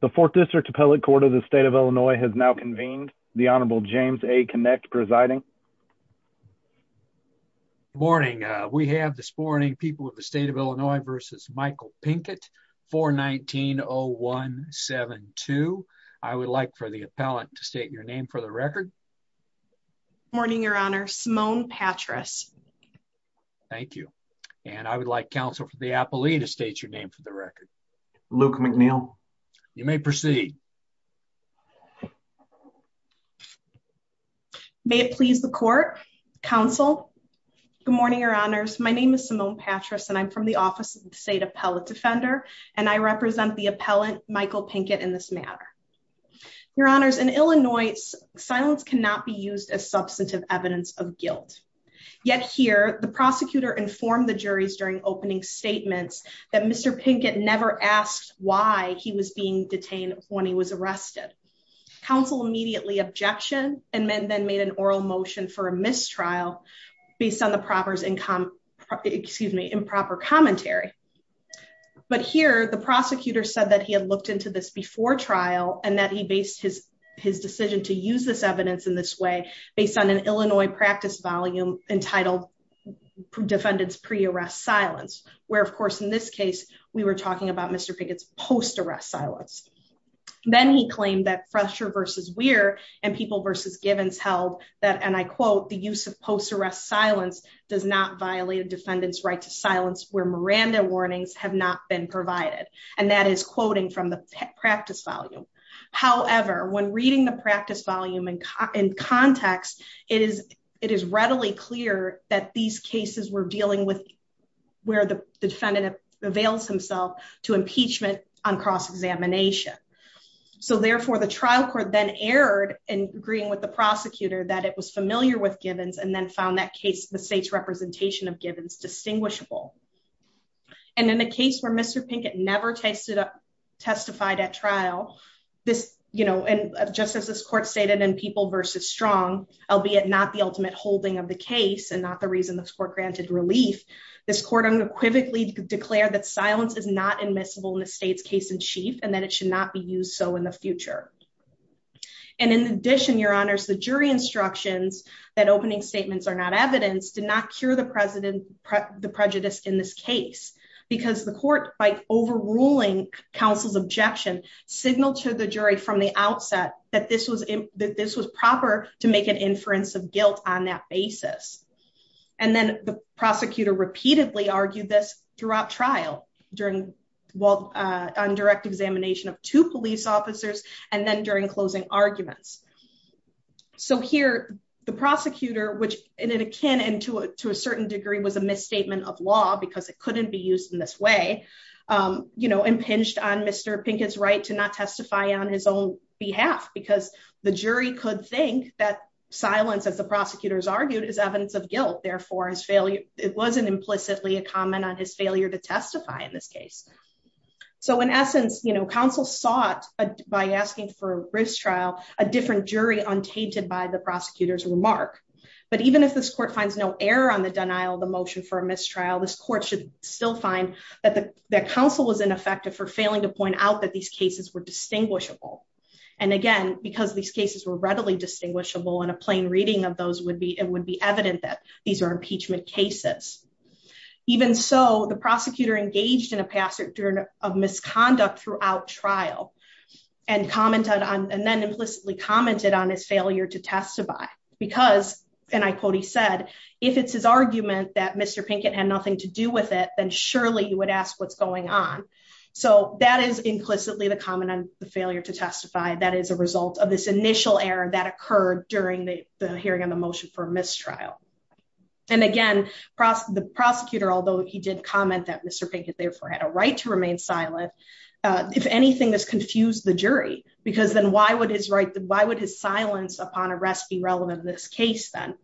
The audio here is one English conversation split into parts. the fourth district appellate court of the state of Illinois has now convened the honorable James a connect presiding morning we have this morning people of the state of Illinois versus Michael Pinkett 419-0172 I would like for the appellant to state your name for the record morning your honor Simone Patras thank you and I would like counsel for the appellee to state your name for the record Luke McNeil you may proceed may it please the court counsel good morning your honors my name is Simone Patras and I'm from the office of the state appellate defender and I represent the appellant Michael Pinkett in this matter your honors in Illinois silence cannot be used as substantive evidence of guilt yet here the prosecutor informed the juries during opening statements that Mr. Pinkett never asked why he was being detained when he was arrested counsel immediately objection and then made an oral motion for a mistrial based on the proper income excuse me improper commentary but here the prosecutor said that he had looked into this before trial and that he based his his decision to use this evidence in this way based on an Illinois practice volume entitled defendants pre-arrest silence where of this case we were talking about Mr. Pinkett's post-arrest silence then he claimed that fresher versus we're and people versus givens held that and I quote the use of post-arrest silence does not violate a defendant's right to silence where Miranda warnings have not been provided and that is quoting from the practice volume however when reading the practice volume and in context it is readily clear that these cases were dealing with where the defendant avails himself to impeachment on cross-examination so therefore the trial court then erred in agreeing with the prosecutor that it was familiar with givens and then found that case the state's representation of givens distinguishable and in a case where Mr. Pinkett never tasted up testified at trial this you know just as this court stated in people versus strong albeit not the ultimate holding of the case and not the reason this court granted relief this court unequivocally declared that silence is not admissible in the state's case in chief and that it should not be used so in the future and in addition your honors the jury instructions that opening statements are not evidenced did not cure the president the prejudice in this case because the court by overruling counsel's objection signaled to the jury from the outset that this was that this was proper to make an inference of guilt on that basis and then the prosecutor repeatedly argued this throughout trial during well uh on direct examination of two police officers and then during closing arguments so here the prosecutor which in a canon to a certain degree was a misstatement of law because it couldn't be used in this way um you know impinged on Mr. Pinkett's right to not testify on his own behalf because the jury could think that silence as the prosecutors argued is evidence of guilt therefore his failure it wasn't implicitly a comment on his failure to testify in this case so in essence you know counsel sought by asking for a risk trial a different jury untainted by the prosecutor's remark but even if this court finds no error on the denial of the motion for that the council was ineffective for failing to point out that these cases were distinguishable and again because these cases were readily distinguishable and a plain reading of those would be it would be evident that these are impeachment cases even so the prosecutor engaged in a passage of misconduct throughout trial and commented on and then implicitly commented on his failure to testify because and I quote he said if it's his argument that Mr. Pinkett had nothing to with it then surely you would ask what's going on so that is implicitly the comment on the failure to testify that is a result of this initial error that occurred during the hearing on the motion for a mistrial and again the prosecutor although he did comment that Mr. Pinkett therefore had a right to remain silent if anything this confused the jury because then why would his right why would his silence upon arrest be relevant in this case then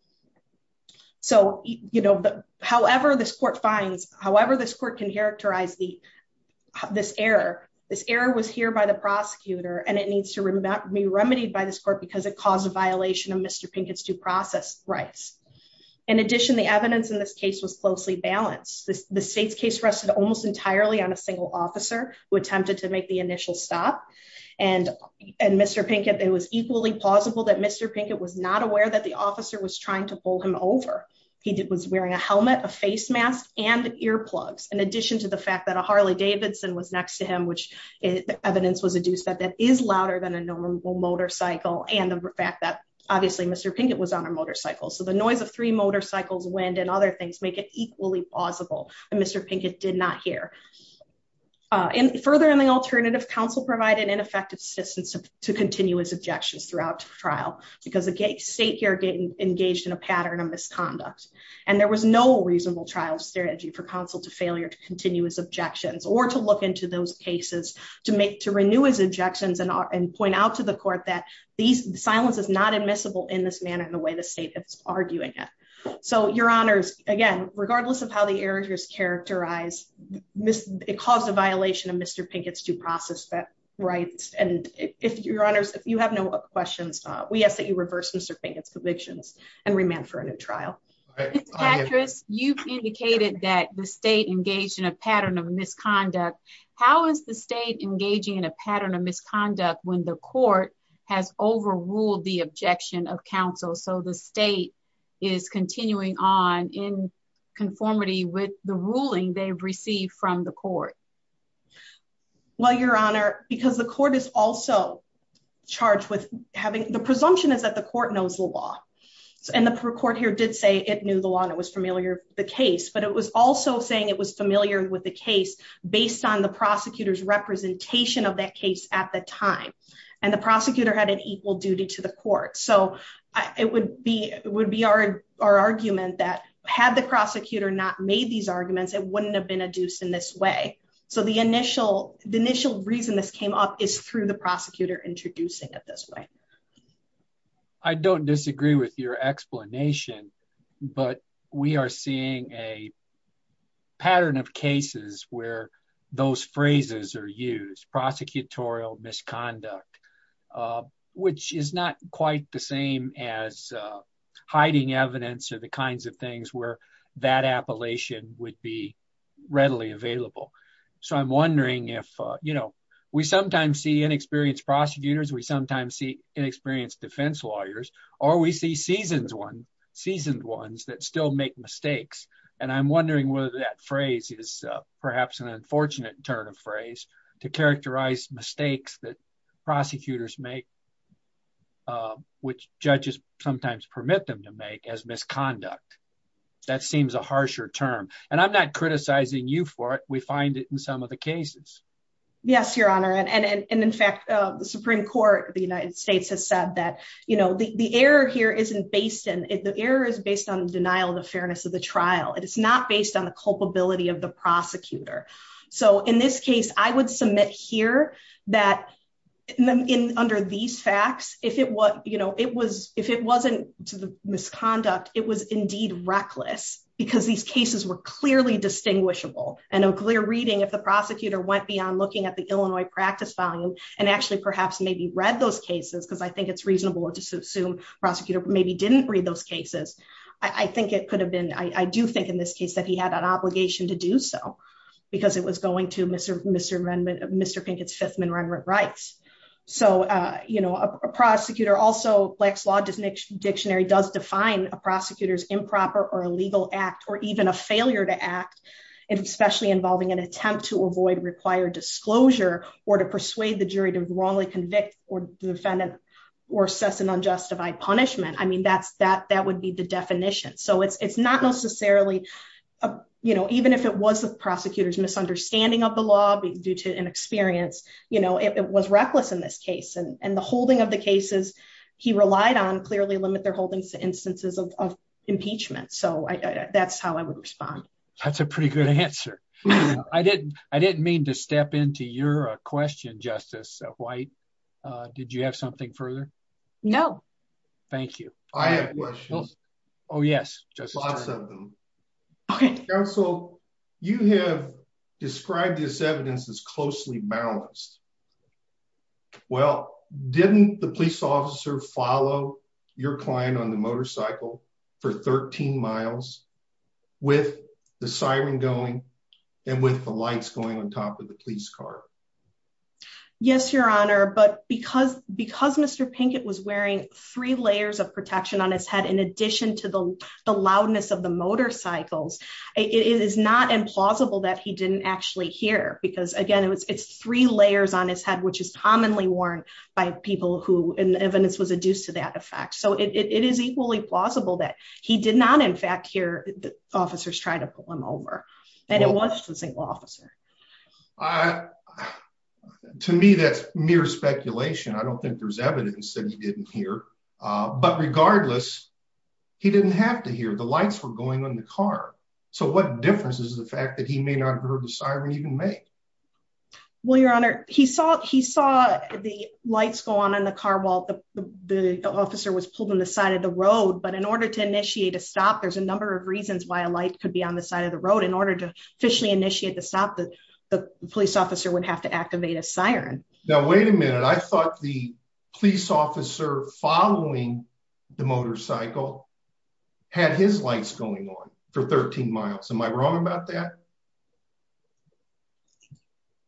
so you know however this court finds however this court can characterize the this error this error was here by the prosecutor and it needs to be remedied by this court because it caused a violation of Mr. Pinkett's due process rights in addition the evidence in this case was closely balanced the state's case rested almost entirely on a single officer who attempted to make the initial stop and and Mr. Pinkett it was equally plausible that Mr. Pinkett was not aware that the officer was trying to pull him over he did was wearing a helmet a face mask and earplugs in addition to the fact that a Harley Davidson was next to him which evidence was adduced that that is louder than a normal motorcycle and the fact that obviously Mr. Pinkett was on a motorcycle so the noise of three motorcycles wind and other things make it equally plausible and Mr. Pinkett did not hear uh and further in the alternative counsel provided ineffective assistance to continue his objections throughout the trial because again state here getting engaged in a pattern of misconduct and there was no reasonable trial strategy for counsel to failure to continue his objections or to look into those cases to make to renew his objections and and point out to the court that these silence is not admissible in this manner in the way the state is arguing it so your honors again regardless of how the errors characterize miss it caused a violation of Mr. Pinkett's due process that rights and if your honors if you have no questions uh we ask that you reverse Mr. Pinkett's convictions and remand for a new trial actress you've indicated that the state engaged in a pattern of misconduct how is the state engaging in a pattern of misconduct when the court has received from the court well your honor because the court is also charged with having the presumption is that the court knows the law and the court here did say it knew the law and it was familiar the case but it was also saying it was familiar with the case based on the prosecutor's representation of that case at the time and the prosecutor had an equal duty to the court so it would be it would be our our argument that had the prosecutor not made these arguments it wouldn't have been adduced in this way so the initial the initial reason this came up is through the prosecutor introducing it this way i don't disagree with your explanation but we are seeing a pattern of cases where those phrases are used prosecutorial misconduct uh which is not quite the same as uh hiding evidence or the kinds of things where that appellation would be readily available so i'm wondering if uh you know we sometimes see inexperienced prosecutors we sometimes see inexperienced defense lawyers or we see seasons one seasoned ones that still make mistakes and i'm wondering whether that phrase is perhaps an make uh which judges sometimes permit them to make as misconduct that seems a harsher term and i'm not criticizing you for it we find it in some of the cases yes your honor and and and in fact uh the supreme court the united states has said that you know the the error here isn't based in the error is based on the denial of the fairness of the trial it is not based on the of the prosecutor so in this case i would submit here that in under these facts if it was you know it was if it wasn't to the misconduct it was indeed reckless because these cases were clearly distinguishable and a clear reading if the prosecutor went beyond looking at the illinois practice volume and actually perhaps maybe read those cases because i think it's reasonable to assume prosecutor maybe didn't read those cases i i think it could have been i do think in this case that he had an obligation to do so because it was going to mr mr mr pinkett's fifth amendment rights so uh you know a prosecutor also black's law does dictionary does define a prosecutor's improper or illegal act or even a failure to act especially involving an attempt to avoid required disclosure or to persuade the jury to wrongly convict or defendant or assess an unjustified punishment i mean that's that that would be the definition so it's it's not necessarily you know even if it was the prosecutor's misunderstanding of the law due to an experience you know it was reckless in this case and and the holding of the cases he relied on clearly limit their holdings to instances of impeachment so i that's how i would respond that's a pretty good answer i didn't i didn't mean to step into your question justice white uh did you have something no thank you i have questions oh yes just lots of them okay counsel you have described this evidence as closely balanced well didn't the police officer follow your client on the motorcycle for 13 miles with the siren going and with the lights going on top of the police car yes your honor but because because mr pinkett was wearing three layers of protection on his head in addition to the the loudness of the motorcycles it is not implausible that he didn't actually hear because again it was it's three layers on his head which is commonly worn by people who and evidence was adduced to that effect so it is equally plausible that he did not in fact hear the officers try to pull him over and it was a single officer i to me that's mere speculation i don't think there's evidence that he didn't hear uh but regardless he didn't have to hear the lights were going on the car so what difference is the fact that he may not have heard the siren even make well your honor he saw he saw the lights go on in the car while the the officer was pulled on the side of the road but in order to initiate a stop there's a number of reasons why a light could be on the side of the road in order to officially initiate the stop the police officer would have to activate a siren now wait a minute i thought the police officer following the motorcycle had his lights going on for 13 miles am i wrong about that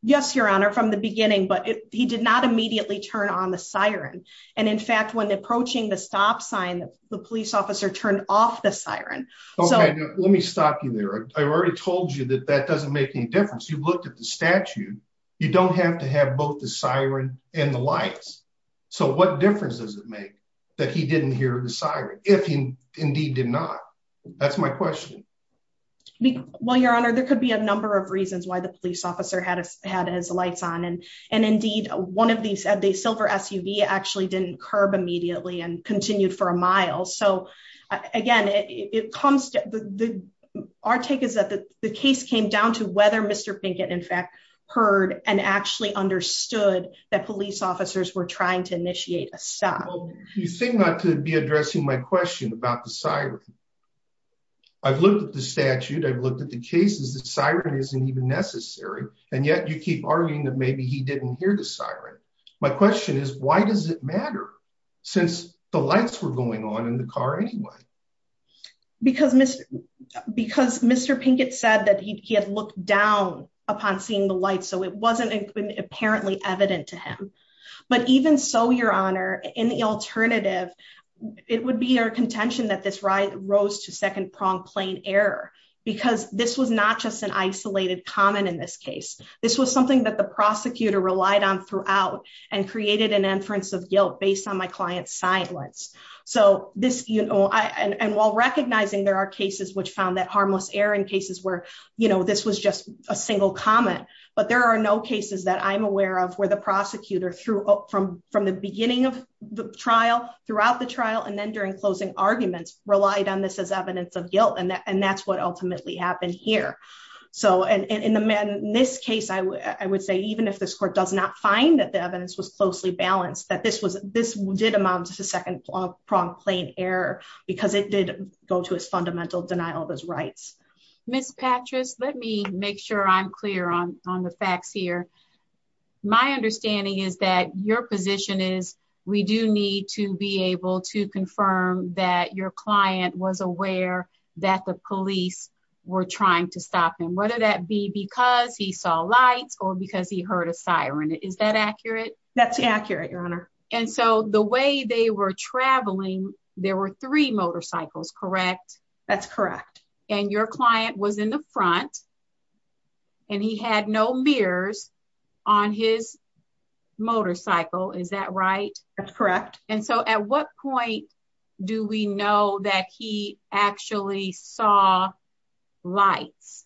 yes your honor from the beginning but he did not immediately turn on the siren and in fact when approaching the stop sign the police officer turned off the siren okay let me stop you there i've already told you that that doesn't make any difference you've looked at the statute you don't have to have both the siren and the lights so what difference does it make that he didn't hear the siren if he indeed did not that's my question well your honor there could be a number of reasons why the police officer had had his lights on and and indeed one of these had the silver suv actually didn't curb immediately and continued for a mile so again it comes to the our take is that the case came down to whether mr pinkett in fact heard and actually understood that police officers were trying to initiate a stop you seem not to be addressing my question about the siren i've looked at the statute i've looked at the cases the siren isn't even necessary and yet you keep arguing that maybe he didn't hear siren my question is why does it matter since the lights were going on in the car anyway because mr because mr pinkett said that he had looked down upon seeing the light so it wasn't apparently evident to him but even so your honor in the alternative it would be our contention that this ride rose to second prong plane error because this was not just an isolated comment in this case this was something that the prosecutor relied on throughout and created an inference of guilt based on my client's silence so this you know i and while recognizing there are cases which found that harmless error in cases where you know this was just a single comment but there are no cases that i'm aware of where the prosecutor threw up from from the beginning of the trial throughout the trial and then during closing arguments relied on this as evidence of guilt and that and that's ultimately happened here so and in the man in this case i i would say even if this court does not find that the evidence was closely balanced that this was this did amount to second prong plane error because it did go to his fundamental denial of his rights miss patrice let me make sure i'm clear on on the facts here my understanding is that your position is we do need to be able to we're trying to stop him whether that be because he saw lights or because he heard a siren is that accurate that's accurate your honor and so the way they were traveling there were three motorcycles correct that's correct and your client was in the front and he had no mirrors on his lights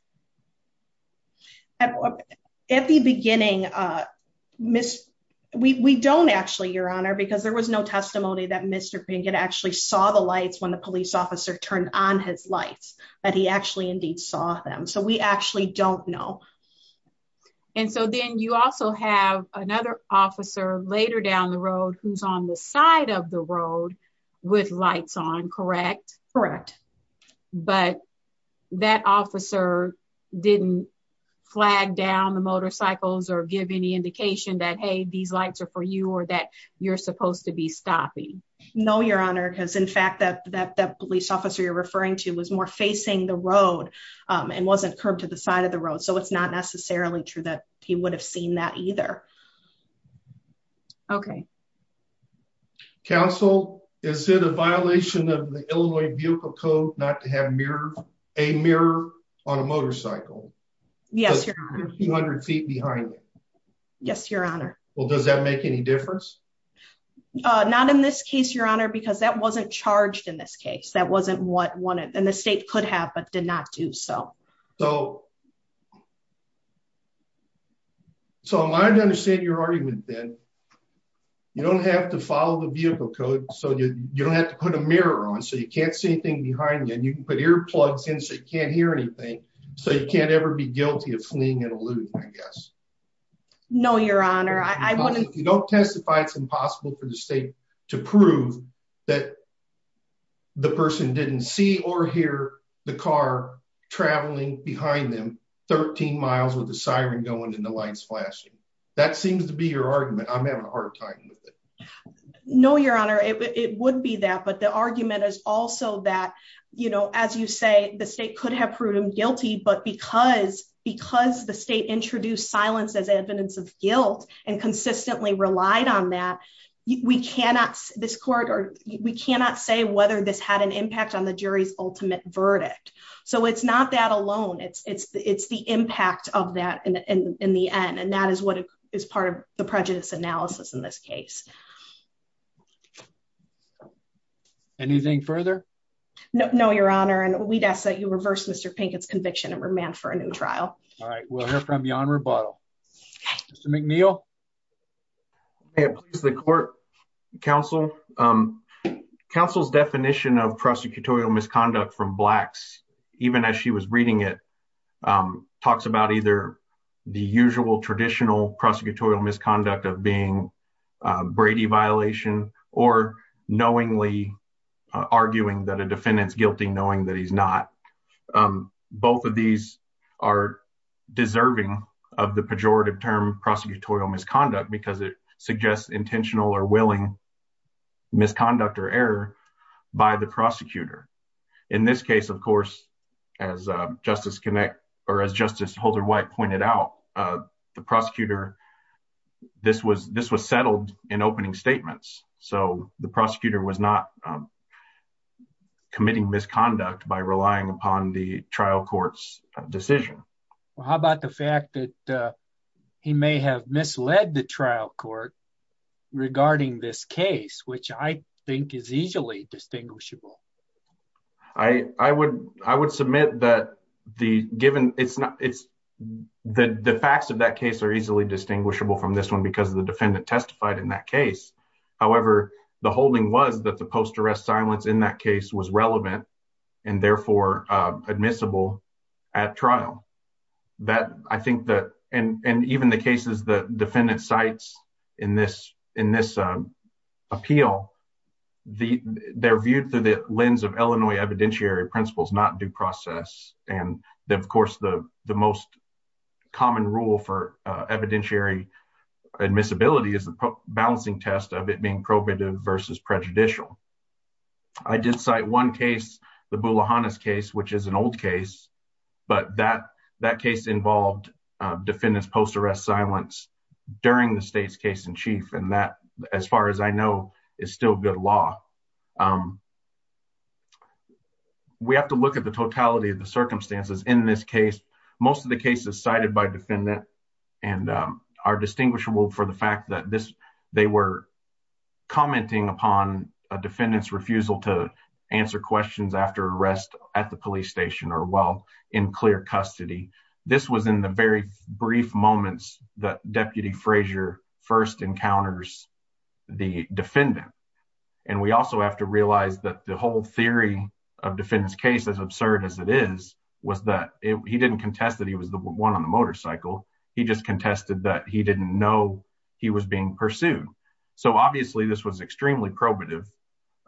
at the beginning uh miss we we don't actually your honor because there was no testimony that mr pinkett actually saw the lights when the police officer turned on his lights that he actually indeed saw them so we actually don't know and so then you also have another officer later down the road who's on the side of the road with lights on correct correct but that officer didn't flag down the motorcycles or give any indication that hey these lights are for you or that you're supposed to be stopping no your honor because in fact that that that police officer you're referring to was more facing the road and wasn't curbed to the side of the road so it's not necessarily true that he would have seen that either okay counsel is it a violation of the illinois vehicle code not to have mirror a mirror on a motorcycle yes 200 feet behind you yes your honor well does that make any difference uh not in this case your honor because that wasn't charged in this case that wasn't what wanted and the state could have but did not do so so so i'm going to understand your argument then you don't have to follow the vehicle code so you you don't have to put a mirror on so you can't see anything behind you and you can put earplugs in so you can't hear anything so you can't ever be guilty of fleeing and alluding i guess no your honor i wouldn't you don't testify it's impossible for the state to prove that the person didn't see or hear the car traveling behind them 13 miles with the siren going and the lights flashing that seems to be your argument i'm having a hard time with it no your honor it would be that but the argument is also that you know as you say the state could have proven guilty but because because the state introduced silence as evidence of guilt and consistently relied on that we cannot this court or we cannot say whether this had an impact on the jury's ultimate verdict so it's not that alone it's it's it's the impact of that in the end and that is what is part of the prejudice analysis in this case anything further no no your honor and we'd ask that you reverse mr pinkett's conviction and remand for a new trial all right we'll hear from you on rebuttal mr mcneil may it please the court council um council's definition of prosecutorial misconduct from blacks even as she was reading it um talks about either the usual traditional prosecutorial misconduct of being brady violation or knowingly arguing that a defendant's guilty knowing that he's not um both of these are deserving of the pejorative term prosecutorial misconduct because it suggests intentional or willing misconduct or error by the prosecutor in this case of course as justice connect or as justice holder white pointed out uh the prosecutor this was this was settled in opening statements so the prosecutor was not um committing misconduct by relying upon the trial court's decision well how about the fact that uh he may have misled the trial court regarding this case which i think is easily distinguishable i i would i would submit that the given it's not it's the the facts of that case are easily distinguishable from this one because the defendant testified in that case however the holding was that the post-arrest silence in that case was relevant and therefore admissible at trial that i think that and and even the cases the defendant cites in this in this uh appeal the they're viewed through the lens of illinois evidentiary principles not due process and of course the the most common rule for uh evidentiary admissibility is the balancing test of it being probative versus prejudicial i did cite one case the bulohana's case which is an old case but that that case involved uh defendant's post-arrest silence during the state's case in chief and that as far as i know is still good law um we have to look at the totality of the circumstances in this case most of the cases cited by defendant and um are distinguishable for the fact that this they were commenting upon a defendant's refusal to answer questions after arrest at the police station or while in clear custody this was in the very brief moments that deputy frazier first encounters the defendant and we also have to realize that the whole theory of defendant's case as absurd as it is was that he didn't contest that he was the one on the motorcycle he just contested that he didn't know he was being pursued so obviously this was extremely probative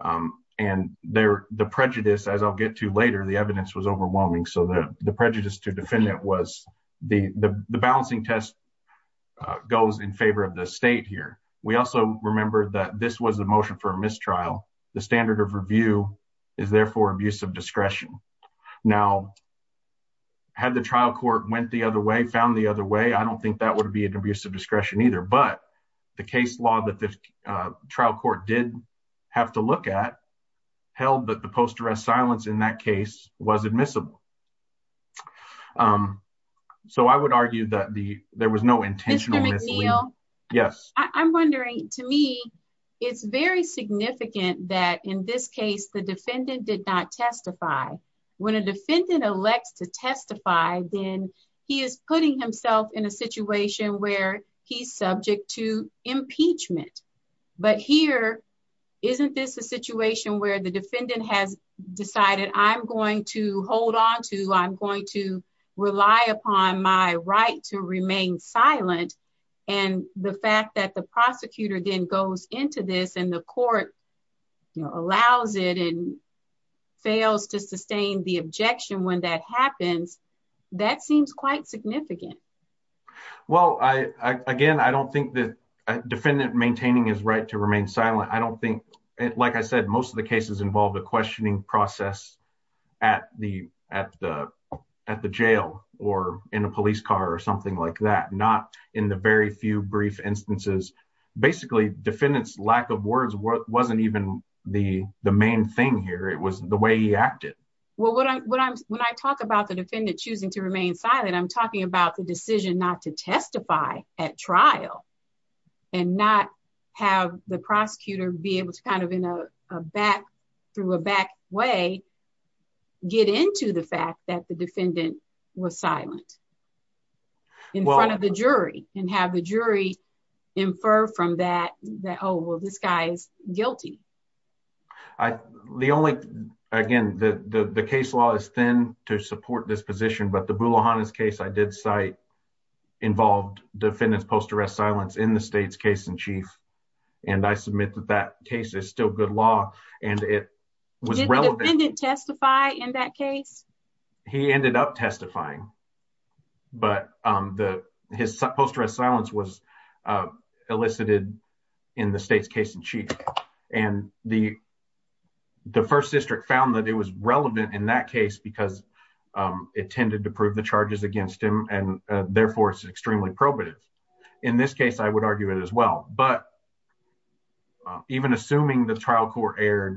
um and there the prejudice as i'll get to later the evidence was overwhelming so the the prejudice to defendant was the the balancing test uh goes in favor of the state here we also remember that this was a motion for a had the trial court went the other way found the other way i don't think that would be an abuse of discretion either but the case law that the trial court did have to look at held that the post-arrest silence in that case was admissible um so i would argue that the there was no intentional yes i'm wondering to me it's very significant that in this case the testifier then he is putting himself in a situation where he's subject to impeachment but here isn't this a situation where the defendant has decided i'm going to hold on to i'm going to rely upon my right to remain silent and the fact that the prosecutor then goes into this and the court allows it and fails to sustain the objection when that happens that seems quite significant well i again i don't think that a defendant maintaining his right to remain silent i don't think like i said most of the cases involve the questioning process at the at the at the jail or in a police car or something like that not in the very few brief instances basically defendant's lack of words wasn't even the the main thing here it was the way he acted well what i'm what i'm when i talk about the defendant choosing to remain silent i'm talking about the decision not to testify at trial and not have the prosecutor be able to kind of in a back through a back way get into the fact that the defendant was silent in front of the jury and have the jury infer from that that oh well this guy is guilty i the only again the the case law is thin to support this position but the bulohana's case i did cite involved defendants post arrest silence in the state's case in chief and i submit that that case is still good law and was relevant testify in that case he ended up testifying but um the his post arrest silence was elicited in the state's case in chief and the the first district found that it was relevant in that case because it tended to prove the charges against him and therefore it's extremely probative in this the trial court erred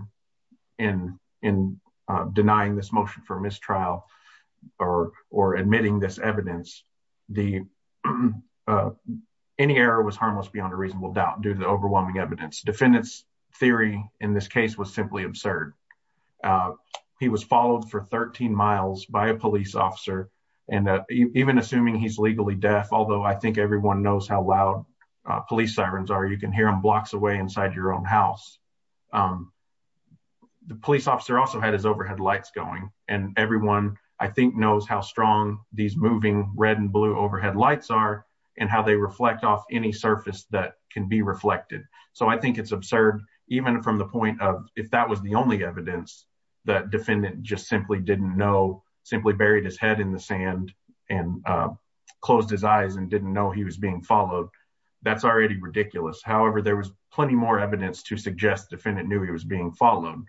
in in denying this motion for mistrial or or admitting this evidence the any error was harmless beyond a reasonable doubt due to the overwhelming evidence defendants theory in this case was simply absurd he was followed for 13 miles by a police officer and even assuming he's legally deaf although i think everyone knows how loud police sirens are you can hear them blocks away inside your own house the police officer also had his overhead lights going and everyone i think knows how strong these moving red and blue overhead lights are and how they reflect off any surface that can be reflected so i think it's absurd even from the point of if that was the only evidence that defendant just simply didn't know simply buried his head in the sand and closed his eyes and didn't know he was being followed that's already ridiculous however there was plenty more evidence to suggest defendant knew he was being followed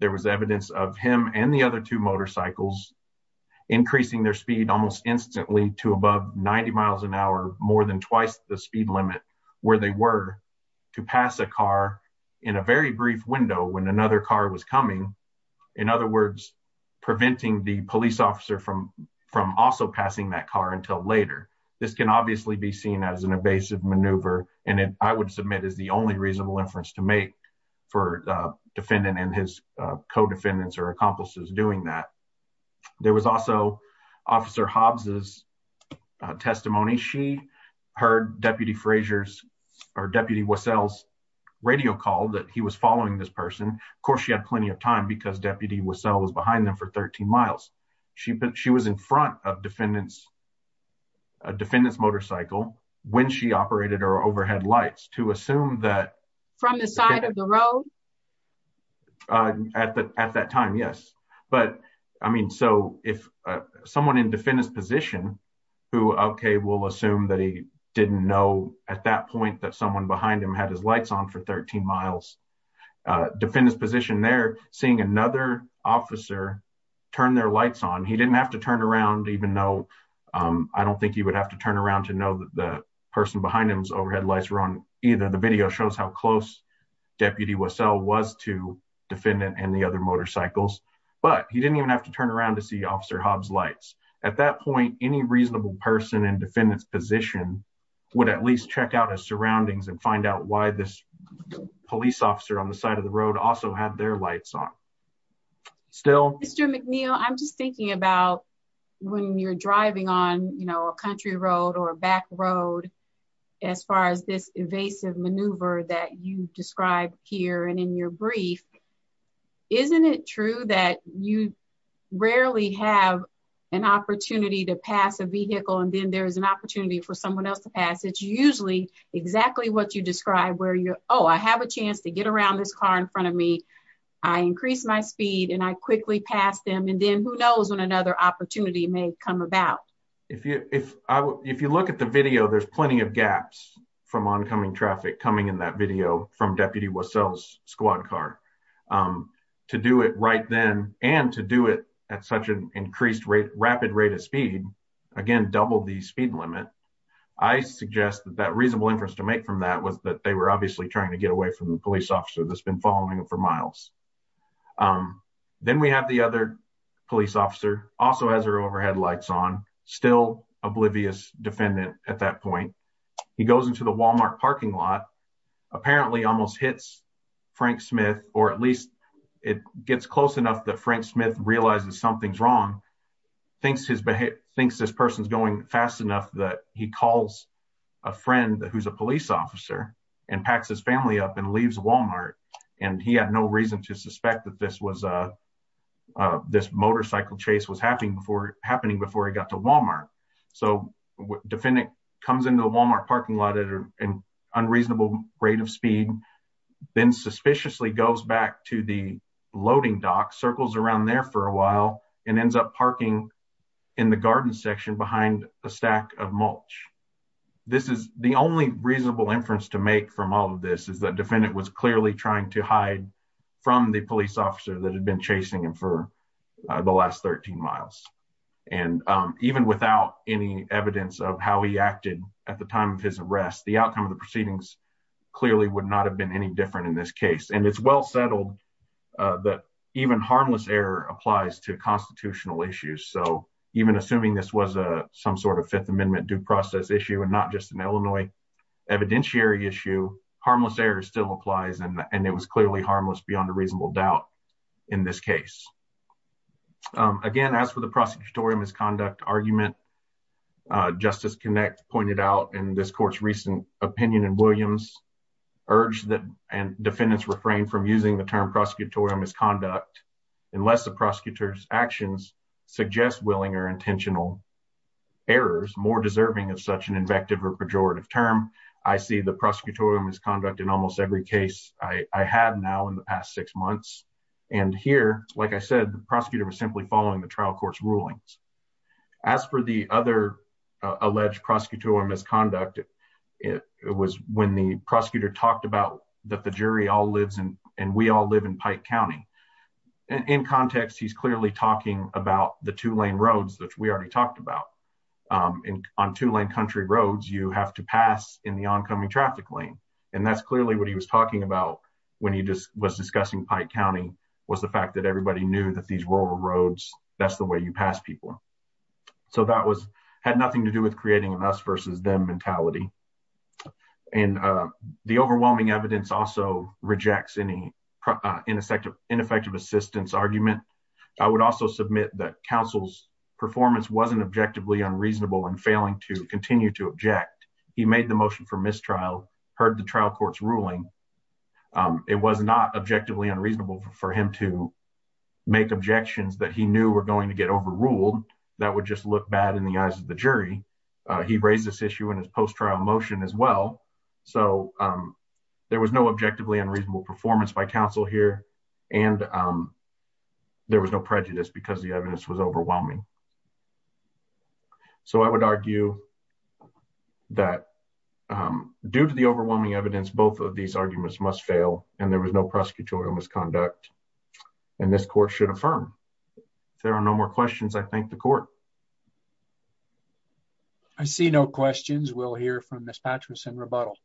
there was evidence of him and the other two motorcycles increasing their speed almost instantly to above 90 miles an hour more than twice the speed limit where they were to pass a car in a very brief window when another car was coming in other words preventing the police officer from from also passing that car until later this can obviously be seen as an evasive maneuver and i would submit is the only reasonable inference to make for the defendant and his co-defendants or accomplices doing that there was also officer hobbs's testimony she heard deputy frazier's or deputy wassell's radio call that he was following this person of course she had plenty of time because deputy was behind them for 13 miles she put she was in front of defendants a defendant's motorcycle when she operated her overhead lights to assume that from the side of the road at the at that time yes but i mean so if someone in defendant's position who okay will assume that he didn't know at that point that someone behind him had his lights on for 13 miles defendant's position there seeing another officer turn their lights on he didn't have to turn around even though i don't think he would have to turn around to know that the person behind him's overhead lights were on either the video shows how close deputy wassell was to defendant and the other motorcycles but he didn't even have to turn around to see officer hobbs lights at that point any reasonable person in defendant's position would at least check out his surroundings and find out why this police officer on the side of the road also had their lights on still mr mcneil i'm just thinking about when you're driving on you know a country road or a back road as far as this evasive maneuver that you describe here and in your brief isn't it true that you rarely have an opportunity to pass a vehicle and then there's an opportunity for someone else to pass it's usually exactly what you describe where you oh i have a chance to get around this car in front of me i increase my speed and i quickly pass them and then who knows when another opportunity may come about if you if i if you look at the video there's plenty of gaps from oncoming traffic coming in that video from deputy wassell's squad car to do it right then and to do it at such an increased rate rapid rate of speed again doubled the speed limit i suggest that that reasonable inference to make from that was that they were obviously trying to get away from the police officer that's been following him for miles then we have the other police officer also has their overhead lights on still oblivious defendant at that point he goes into the walmart parking lot apparently almost hits frank smith or at least it gets close enough that frank smith realizes something's wrong thinks his behavior thinks this person's going fast enough that he calls a friend who's a police officer and packs his family up and leaves walmart and he had no reason to suspect that this was uh uh this motorcycle chase was happening before happening before he got to walmart so defendant comes into the walmart parking lot at an unreasonable rate of speed then suspiciously there for a while and ends up parking in the garden section behind a stack of mulch this is the only reasonable inference to make from all of this is that defendant was clearly trying to hide from the police officer that had been chasing him for the last 13 miles and even without any evidence of how he acted at the time of his arrest the outcome of the proceedings clearly would not have been any different in this case and it's well settled that even harmless error applies to constitutional issues so even assuming this was a some sort of fifth amendment due process issue and not just an illinois evidentiary issue harmless error still applies and and it was clearly harmless beyond a reasonable doubt in this case again as for the prosecutorial misconduct argument justice connect pointed out in this court's recent opinion and prosecutorial misconduct unless the prosecutor's actions suggest willing or intentional errors more deserving of such an invective or pejorative term i see the prosecutorial misconduct in almost every case i i had now in the past six months and here like i said the prosecutor was simply following the trial court's rulings as for the other alleged prosecutorial misconduct it it was when the pike county in context he's clearly talking about the two lane roads which we already talked about um on two lane country roads you have to pass in the oncoming traffic lane and that's clearly what he was talking about when he just was discussing pike county was the fact that everybody knew that these rural roads that's the way you pass people so that was had nothing to do with creating an them mentality and uh the overwhelming evidence also rejects any uh ineffective ineffective assistance argument i would also submit that counsel's performance wasn't objectively unreasonable and failing to continue to object he made the motion for mistrial heard the trial court's ruling it was not objectively unreasonable for him to make objections that he knew were going to get overruled that would just look bad in the eyes of the jury he raised this issue in his post-trial motion as well so um there was no objectively unreasonable performance by counsel here and um there was no prejudice because the evidence was overwhelming so i would argue that um due to the overwhelming evidence both of these arguments must fail and there was no misconduct and this court should affirm there are no more questions i thank the court i see no questions we'll hear from miss patterson rebuttal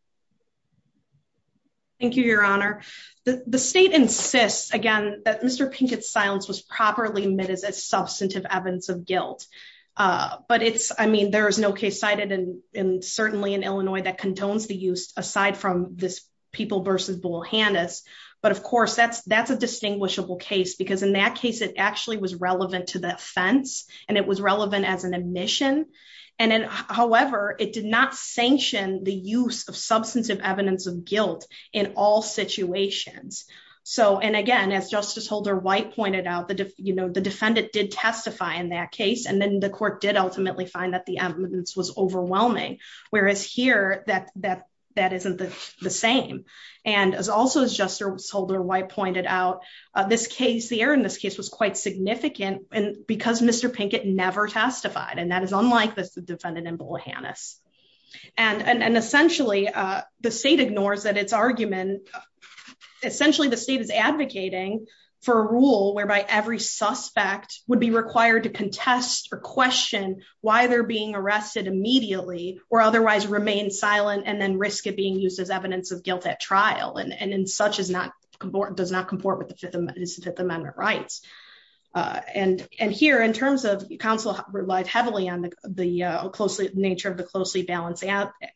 thank you your honor the the state insists again that mr pinkett's silence was properly met as a substantive evidence of guilt uh but it's i mean there is no case cited and and certainly in but of course that's that's a distinguishable case because in that case it actually was relevant to the offense and it was relevant as an admission and then however it did not sanction the use of substantive evidence of guilt in all situations so and again as justice holder white pointed out the you know the defendant did testify in that case and then the court did ultimately find that evidence was overwhelming whereas here that that that isn't the same and as also as juster soldier white pointed out uh this case the error in this case was quite significant and because mr pinkett never testified and that is unlike the defendant in bolehanas and and essentially uh the state ignores that its argument essentially the state is advocating for a rule whereby every suspect would be required to contest or question why they're being arrested immediately or otherwise remain silent and then risk it being used as evidence of guilt at trial and and in such as not comport does not comport with the fifth is the fifth amendment rights uh and and here in terms of counsel relied heavily on the closely nature of the closely balanced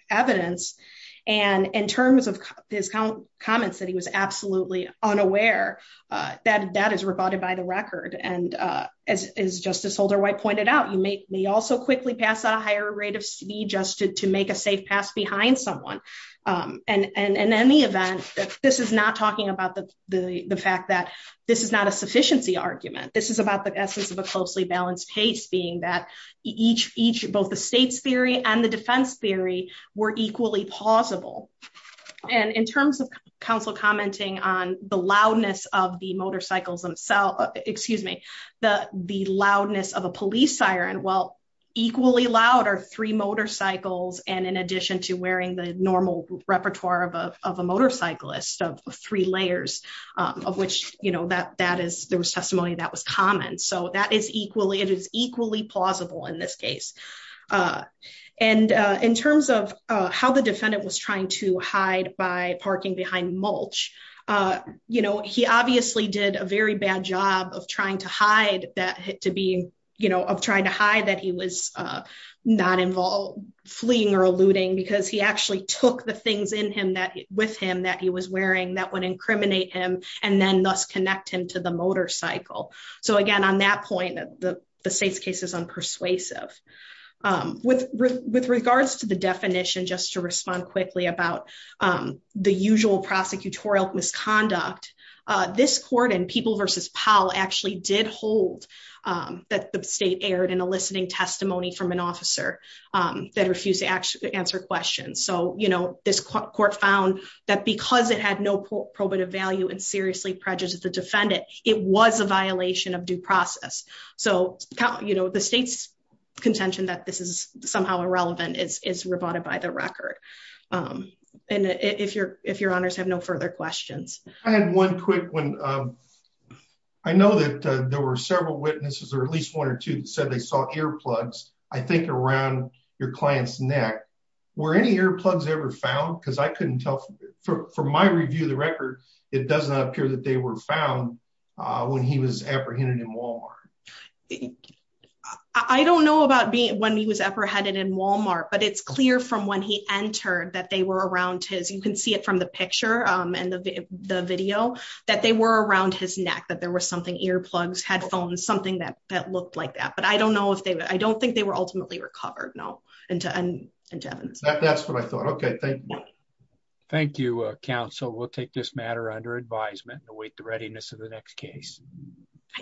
evidence and in terms of his comments that he was absolutely unaware uh that that is rebutted by the record and uh as as justice holder white pointed out you may may also quickly pass a higher rate of speed just to make a safe pass behind someone um and and in any event this is not talking about the the the fact that this is not a sufficiency argument this is about the essence of a closely balanced case being that each each both the state's theory and the defense theory were equally plausible and in terms of counsel commenting on the loudness of the motorcycles themselves excuse me the the loudness of a police siren well equally loud are three motorcycles and in addition to wearing the normal repertoire of a of a motorcyclist of three layers um of which you know that that is there was in this case uh and uh in terms of uh how the defendant was trying to hide by parking behind mulch uh you know he obviously did a very bad job of trying to hide that to be you know of trying to hide that he was uh not involved fleeing or alluding because he actually took the things in him that with him that he was wearing that would incriminate him and then thus connect him to the persuasive um with with regards to the definition just to respond quickly about um the usual prosecutorial misconduct uh this court and people versus powell actually did hold um that the state aired an eliciting testimony from an officer um that refused to actually answer questions so you know this court found that because it had no probative value and seriously prejudiced the contention that this is somehow irrelevant is is rebutted by the record um and if you're if your honors have no further questions i had one quick one um i know that there were several witnesses or at least one or two that said they saw earplugs i think around your client's neck were any earplugs ever found because i couldn't tell for my review of the record it does not appear that they were found uh when he was apprehended in walmart i don't know about being when he was apprehended in walmart but it's clear from when he entered that they were around his you can see it from the picture um and the the video that they were around his neck that there was something earplugs headphones something that that looked like that but i don't know if they i don't think they were ultimately recovered no and and that's what i thought okay thank you thank you uh counsel we'll take this matter under advisement and await the comments